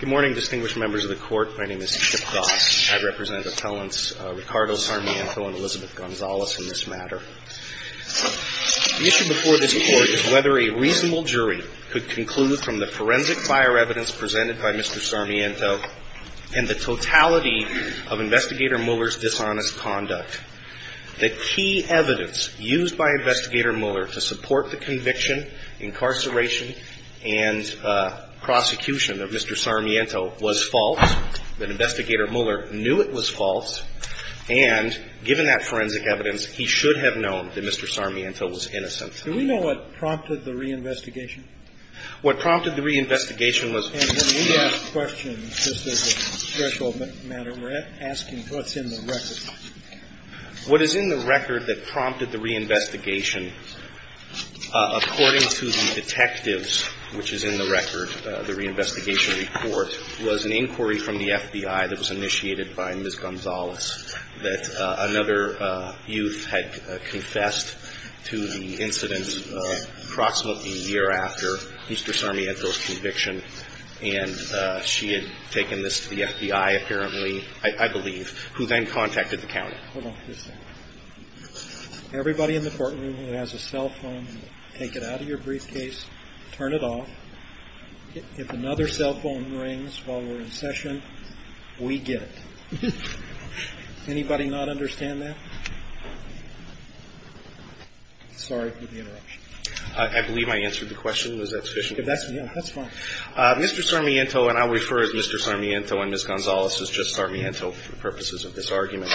Good morning distinguished members of the court. My name is Chip Goss. I represent appellants Ricardo Sarmiento and Elizabeth Gonzalez in this matter. The issue before this court is whether a reasonable jury could conclude from the forensic fire evidence presented by Mr. Sarmiento and the totality of Investigator Mueller's dishonest conduct. The key evidence used by Investigator Sarmiento was false, that Investigator Mueller knew it was false, and given that forensic evidence, he should have known that Mr. Sarmiento was innocent. Do we know what prompted the reinvestigation? What prompted the reinvestigation was And when we ask questions, just as a threshold matter, we're asking what's in the record. What is in the record that prompted the reinvestigation According to the detectives, which is in the record, the reinvestigation report was an inquiry from the FBI that was initiated by Ms. Gonzalez that another youth had confessed to the incident approximately a year after Mr. Sarmiento's conviction, and she had taken this to the FBI apparently, I believe, who then contacted the county. Hold on just a second. Everybody in the courtroom who has a cell phone, take it out of your briefcase, turn it off. If another cell phone rings while we're in session, we get it. Anybody not understand that? Sorry for the interruption. I believe I answered the question. Was that sufficient? That's fine. Mr. Sarmiento, and I'll refer to Mr. Sarmiento and Ms. Gonzalez as just Sarmiento for the purposes of this argument,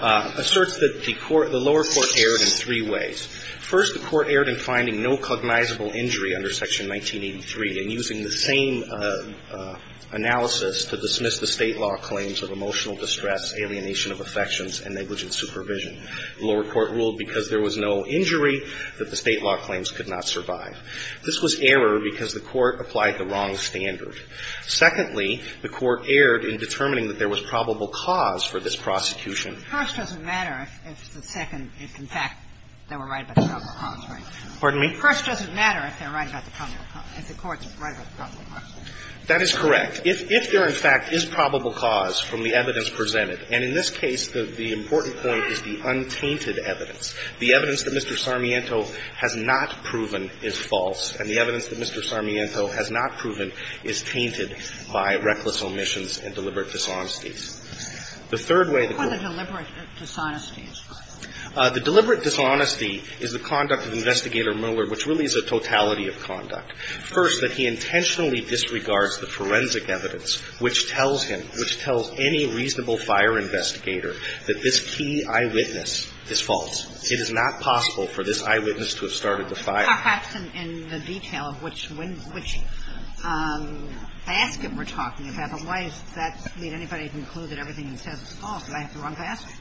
asserts that the lower court erred in three ways. First, the court erred in finding no cognizable injury under Section 1983 and using the same analysis to dismiss the State law claims of emotional distress, alienation of affections, and negligent supervision. The lower court ruled because there was no injury that the State law claims could not survive. This was error because the court applied the wrong standard. Secondly, the court erred in determining that there was probable cause for this prosecution. The first doesn't matter if the second, if, in fact, they were right about the probable cause, right? Pardon me? The first doesn't matter if they're right about the probable cause, if the courts are right about the probable cause. That is correct. If there, in fact, is probable cause from the evidence presented and in this case, the important point is the untainted evidence. The evidence that Mr. Sarmiento has not proven is false and the evidence that Mr. Sarmiento has not proven is tainted by reckless omissions and deliberate dishonesties. The third way the court What are the deliberate dishonesties? The deliberate dishonesty is the conduct of Investigator Mueller, which really is a totality of conduct. First, that he intentionally disregards the forensic evidence which tells him, which tells any reasonable fire investigator that this key eyewitness is false. It is not possible for this eyewitness to have started the fire. Perhaps in the detail of which window, which basket we're talking about. But why does that leave anybody with a clue that everything he says is false? Did I have the wrong basket?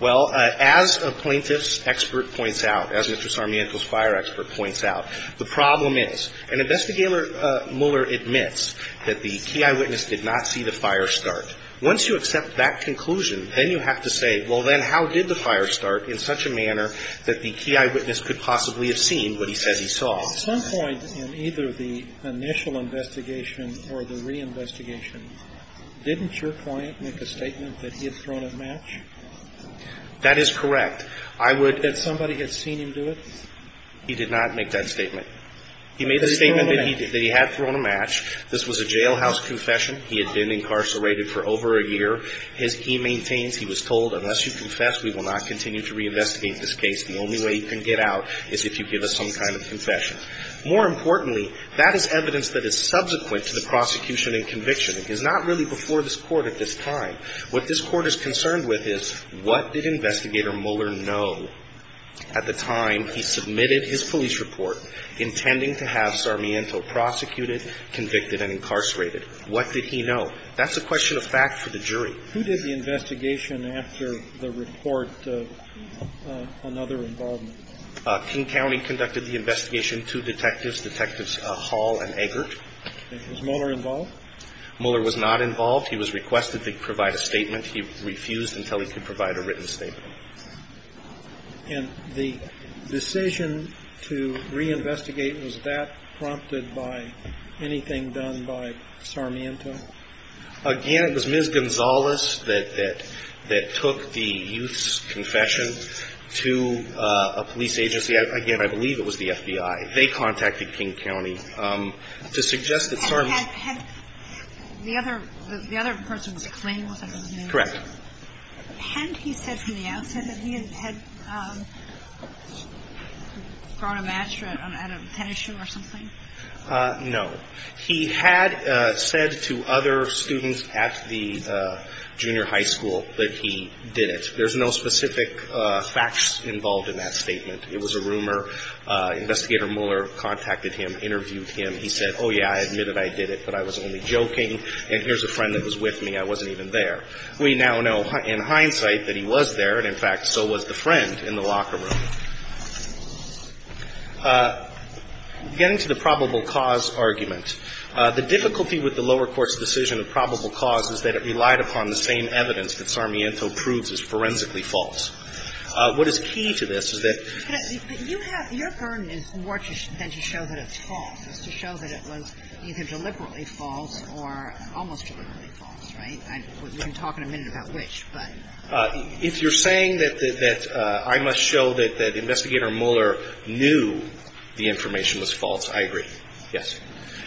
Well, as a plaintiff's expert points out, as Mr. Sarmiento's fire expert points out, the problem is, an Investigator Mueller admits that the key eyewitness did not see the fire start. Once you accept that conclusion, then you have to say, well, then how did the fire start in such a manner that the key eyewitness could possibly have seen what he says he saw? At some point in either the initial investigation or the reinvestigation, didn't your client make a statement that he had thrown a match? That is correct. I would That somebody had seen him do it? He did not make that statement. He made the statement that he had thrown a match. This was a jailhouse confession. He had been incarcerated for over a year. He maintains he was told, unless you confess, we will not continue to reinvestigate this case. The only way you can get out is if you give us some kind of confession. More importantly, that is evidence that is subsequent to the prosecution and conviction. It is not really before this Court at this time. What this Court is concerned with is, what did Investigator Mueller know at the time he submitted his police report intending to have Sarmiento prosecuted, convicted and incarcerated? What did he know? That's a question of fact for the jury. Who did the investigation after the report of another involvement? King County conducted the investigation. Two detectives, Detectives Hall and Eggert. Was Mueller involved? Mueller was not involved. He was requested to provide a statement. He refused until he could provide a written statement. And the decision to reinvestigate, was that prompted by anything done by Sarmiento? Again, it was Ms. Gonzalez that took the youth's confession to a police agency. Again, I believe it was the FBI. They contacted King County to suggest that Sarmiento... Had the other person's claim, wasn't it? Correct. Hadn't he said from the outset that he had thrown a match at a tennis shoe or something? No. He had said to other students at the junior high school that he did it. There's no specific facts involved in that statement. It was a rumor. Investigator Mueller contacted him, interviewed him. He said, oh yeah, I admit that I did it, but I was only joking. And here's a friend that was with me. I wasn't even there. We now know in hindsight that he was there. And in fact, so was the friend in the locker room. Getting to the probable cause argument, the difficulty with the lower court's decision of probable cause is that it relied upon the same evidence that Sarmiento proves is forensically false. What is key to this is that... But you have, your burden is more than to show that it's false. It's to show that it was either deliberately false or almost deliberately false, right? We can talk in a minute about which, but... If you're saying that I must show that Investigator Mueller knew the information was false, I agree. Yes.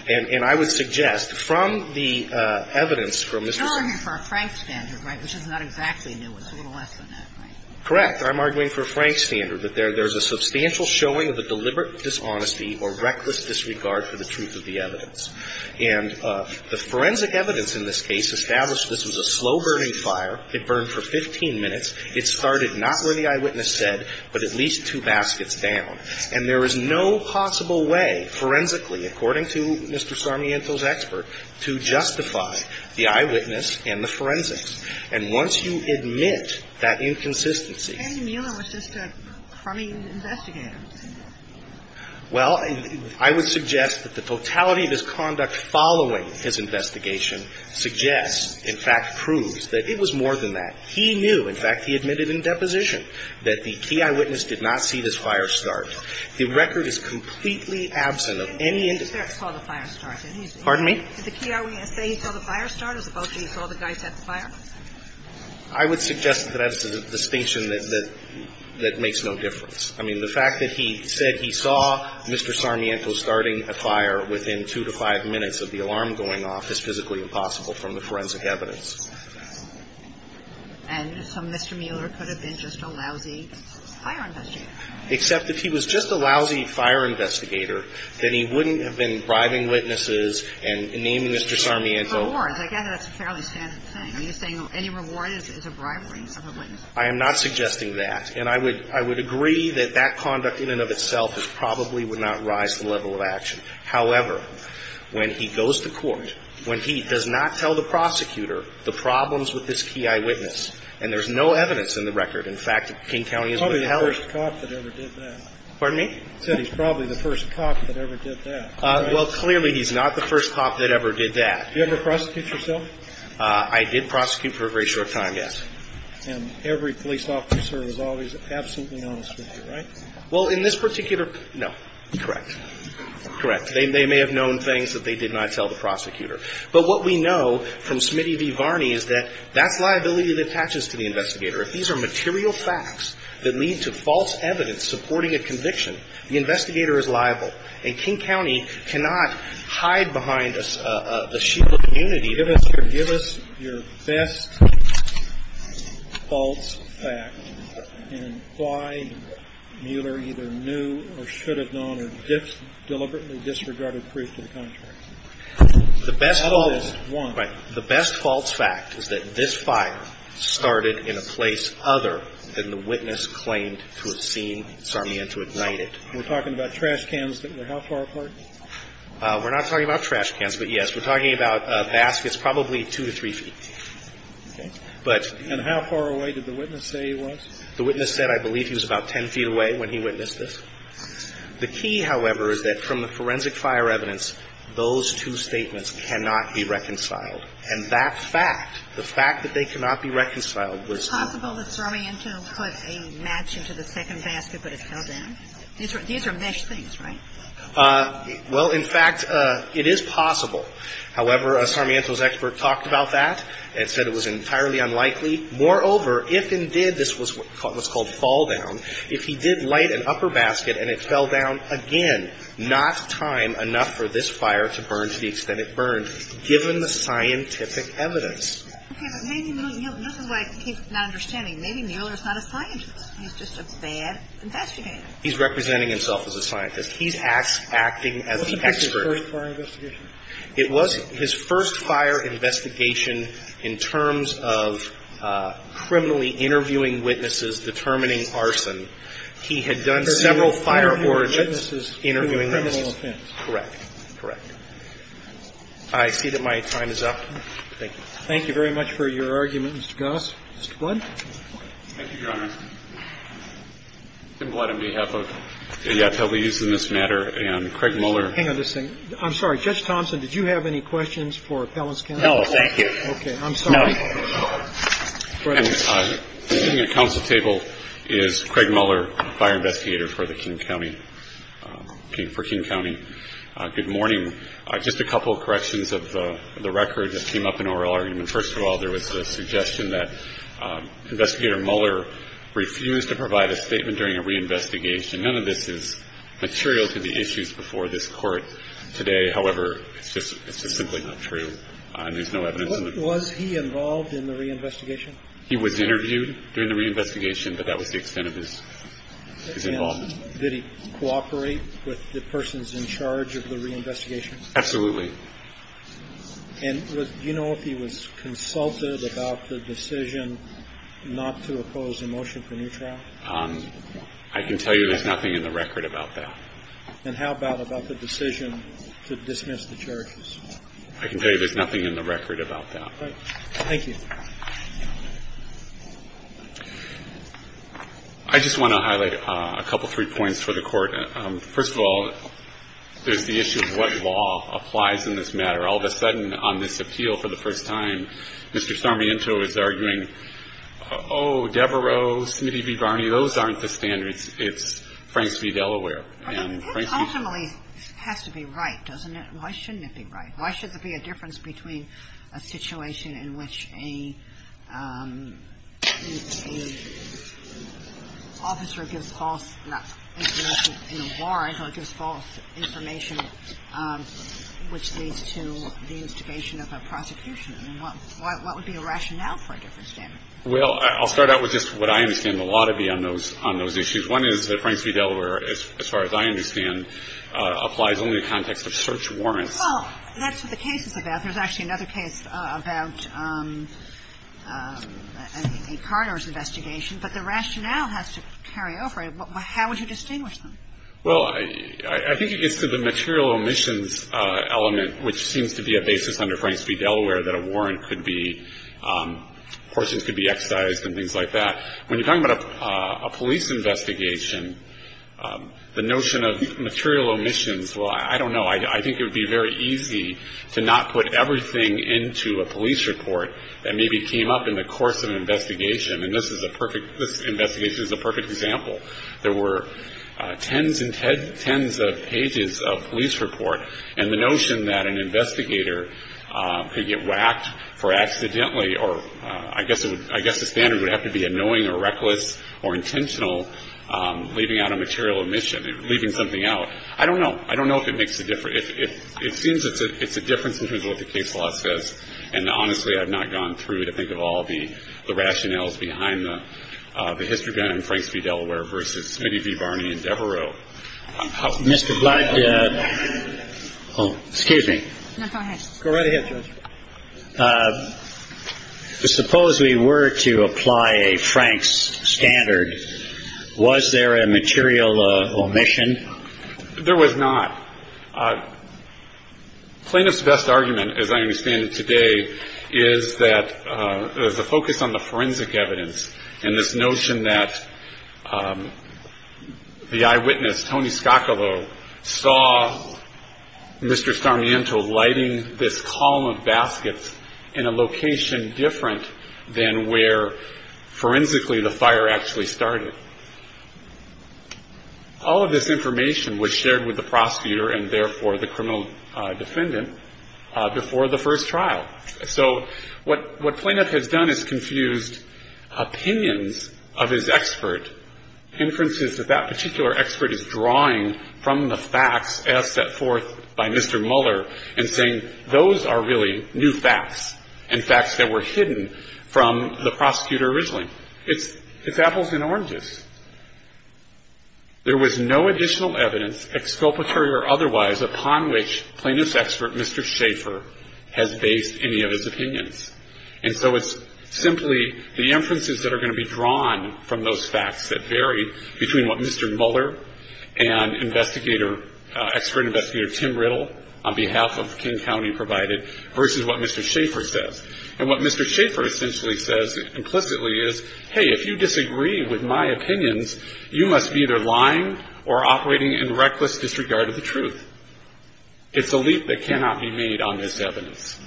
And I would suggest from the evidence from Mr. Sarmiento... You're arguing for a Frank standard, right, which is not exactly new. It's a little less than that, right? Correct. I'm arguing for a Frank standard, that there's a substantial showing of a deliberate dishonesty or reckless disregard for the truth of the evidence. And the forensic evidence in this case established this was a slow-burning fire. It burned for 15 minutes. It started not where the eyewitness said, but at least two baskets down. And there is no possible way, forensically, according to Mr. Sarmiento's expert, to justify the eyewitness and the forensics. And once you admit that inconsistency... And Mueller was just a crummy investigator. Well, I would suggest that the totality of his conduct following his investigation suggests, in fact proves, that it was more than that. He knew, in fact he admitted in deposition, that the key eyewitness did not see this fire start. The record is completely absent of any indication... He didn't say he saw the fire start, did he? Pardon me? Did the key eyewitness say he saw the fire start as opposed to he saw the guy set the fire? I would suggest that that's a distinction that makes no difference. I mean, the fact that he said he saw Mr. Sarmiento starting a fire within two to five minutes of the alarm going off is physically impossible from the forensic evidence. And so Mr. Mueller could have been just a lousy fire investigator. Except if he was just a lousy fire investigator, then he wouldn't have been bribing witnesses and naming Mr. Sarmiento... Any rewards. I gather that's a fairly standard thing. Are you saying any reward is a bribery of a witness? I am not suggesting that. And I would agree that that conduct in and of itself probably would not rise the level of action. However, when he goes to court, when he does not tell the prosecutor the problems with this key eyewitness, and there's no evidence in the record, in fact, King County is... Probably the first cop that ever did that. Pardon me? He said he's probably the first cop that ever did that. Well, clearly he's not the first cop that ever did that. Did you ever prosecute yourself? I did prosecute for a very short time, yes. And every police officer is always absolutely honest with you, right? Well, in this particular... No. Correct. Correct. They may have known things that they did not tell the prosecutor. But what we know from Smitty v. Varney is that that's liability that attaches to the investigator. If these are material facts that lead to false evidence supporting a conviction, the investigator is liable. And King County cannot hide behind a shield of immunity. Give us your best false facts and why Mueller either knew or should have known or just deliberately disregarded proof to the contrary. The best false fact is that this fire started in a place other than the witness claimed to have seen Sarmien to ignite it. We're talking about trash cans that were how far apart? We're not talking about trash cans, but yes, we're talking about baskets probably two to three feet. And how far away did the witness say he was? The witness said I believe he was about 10 feet away when he witnessed this. The key, however, is that from the forensic fire evidence, those two statements cannot be reconciled. And that fact, the fact that they cannot be reconciled was possible. Was it possible that Sarmiento put a match into the second basket but it fell down? These are mesh things, right? Well, in fact, it is possible. However, Sarmiento's expert talked about that and said it was entirely unlikely. Moreover, if indeed this was what's called fall down, if he did light an upper basket and it fell down, again, not time enough for this fire to burn to the extent it burned, given the scientific evidence. Okay, but maybe this is why I keep not understanding. Maybe Mueller's not a scientist. He's just a bad investigator. He's representing himself as a scientist. He's acting as an expert. What was his first fire investigation? It was his first fire investigation in terms of criminally interviewing witnesses, determining arson. He had done several fire origins interviewing witnesses. Correct. Correct. I see that my time is up. Thank you. Thank you very much for your argument, Mr. Goss. Mr. Blood? Thank you, Your Honor. Tim Blood on behalf of the FWs in this matter and Craig Mueller. Hang on just a second. I'm sorry. Judge Thompson, did you have any questions for Appellant's counsel? No, thank you. Okay. I'm sorry. No. And sitting at counsel's table is Craig Mueller, fire investigator for the King County King County. Good morning. Just a couple of corrections of the record that came up in oral argument. First of all, there was the suggestion that Investigator Mueller refused to provide a statement during a reinvestigation. None of this is material to the issues before this Court today. There's no evidence in the court. Was he involved in the reinvestigation? He was interviewed during the reinvestigation, but that was the extent of his involvement. Did he cooperate with the persons in charge of the reinvestigation? Absolutely. And do you know if he was consulted about the decision not to oppose a motion for new trial? I can tell you there's nothing in the record about that. And how about about the decision to dismiss the charges? I can tell you there's nothing in the record about that. Thank you. I just want to highlight a couple, three points for the Court. First of all, there's the issue of what law applies in this matter. All of a sudden, on this appeal for the first time, Mr. Sarmiento is arguing, oh, Devereaux, Smitty v. Barney, those aren't the standards. It's Franks v. Delaware. And Franks v. Delaware. That ultimately has to be right, doesn't it? Why shouldn't it be right? Why should there be a difference between a situation in which a officer gives false information in a warrant or gives false information which leads to the instigation of a prosecution? I mean, what would be a rationale for a different standard? Well, I'll start out with just what I understand the law to be on those issues. One is that Franks v. Delaware, as far as I understand, applies only in the context of search warrants. Well, that's what the case is about. There's actually another case about a coroner's investigation. But the rationale has to carry over. How would you distinguish them? Well, I think it gets to the material omissions element, which seems to be a basis under Franks v. Delaware that a warrant could be, portions could be excised and things like that. When you're talking about a police investigation, the notion of material omissions, well, I don't know. I think it would be very easy to not put everything into a police report that maybe came up in the course of an investigation. And this investigation is a perfect example. There were tens and tens of pages of police report. And the notion that an investigator could get whacked for accidentally, or I guess the standard would have to be annoying or reckless or intentional, leaving out a material omission, leaving something out. I don't know. I don't know if it makes a difference. It seems it's a difference in terms of what the case law says. And honestly, I've not gone through to think of all the rationales behind the history behind Franks v. Delaware versus Smitty v. Barney and Devereaux. Mr. Black, excuse me. No, go ahead. Go right ahead, Judge. Suppose we were to apply a Franks standard. Was there a material omission? There was not. Plaintiff's best argument, as I understand it today, is that there's a focus on the forensic evidence. And this notion that the eyewitness, Tony Scoccolo, saw Mr. Sarmiento lighting this column of baskets in a location different than where forensically the fire actually started. All of this information was shared with the prosecutor and therefore the criminal defendant before the first trial. So what plaintiff has done is confused opinions of his expert, inferences that that particular expert is drawing from the facts as set forth by Mr. Muller and saying, those are really new facts and facts that were hidden from the prosecutor originally. It's apples and oranges. There was no additional evidence, exculpatory or otherwise, upon which plaintiff's expert, Mr. Schaefer, has based any of his opinions. And so it's simply the inferences that are going to be drawn from those facts that vary between what Mr. Muller and expert investigator Tim Riddle on behalf of King County provided versus what Mr. Schaefer says. And what Mr. Schaefer essentially says implicitly is, hey, if you disagree with my opinions, you must be either lying or operating in reckless disregard of the truth. It's a leap that cannot be made on this evidence.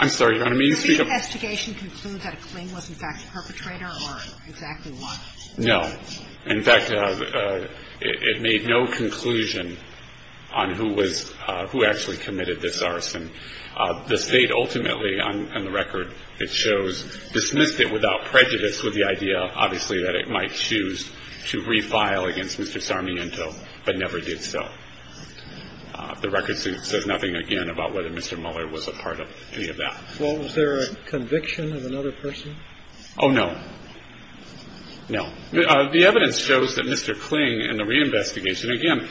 I'm sorry. You want me to speak up? No. Exactly what? No. In fact, it made no conclusion on who was, who actually committed this arson. The state ultimately on the record, it shows, dismissed it without prejudice with the idea, obviously, that it might choose to refile against Mr. Sarmiento, but never did so. The record says nothing again about whether Mr. Muller was a part of any of that. Well, was there a conviction of another person? Oh, no. No. The evidence shows that Mr. Kling in the reinvestigation, again,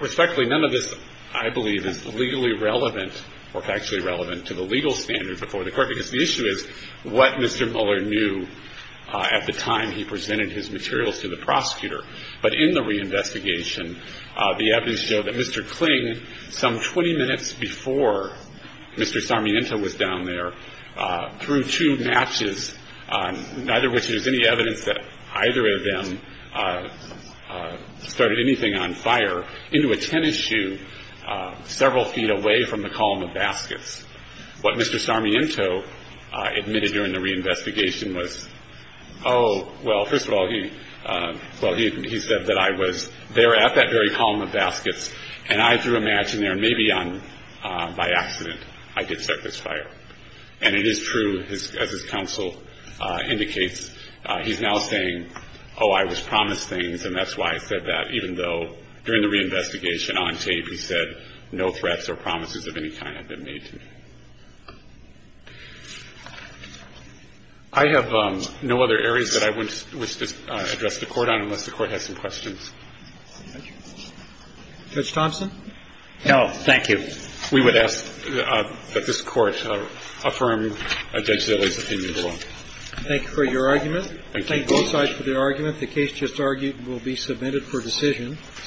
respectfully, none of this I believe is legally relevant or factually relevant to the legal standards before the court, because the issue is what Mr. Muller knew at the time he presented his materials to the prosecutor. But in the reinvestigation, the evidence showed that Mr. Kling, some 20 minutes before Mr. Sarmiento was down there, threw two matches, neither of which there's any evidence that either of them started anything on fire, into a tennis shoe several feet away from the column of baskets. What Mr. Sarmiento admitted during the reinvestigation was, oh, well, first of all, he said that I was there at that very column of baskets and I threw a match in and maybe by accident I did start this fire. And it is true, as his counsel indicates, he's now saying, oh, I was promised things and that's why I said that, even though during the reinvestigation on tape he said no threats or promises of any kind have been made to me. I have no other areas that I wish to address the court on unless the court has some questions. Judge Thompson? No, thank you. We would ask that this Court affirm Judge Zillai's opinion below. Thank you for your argument. Thank you both sides for their argument. The case just argued will be submitted for decision.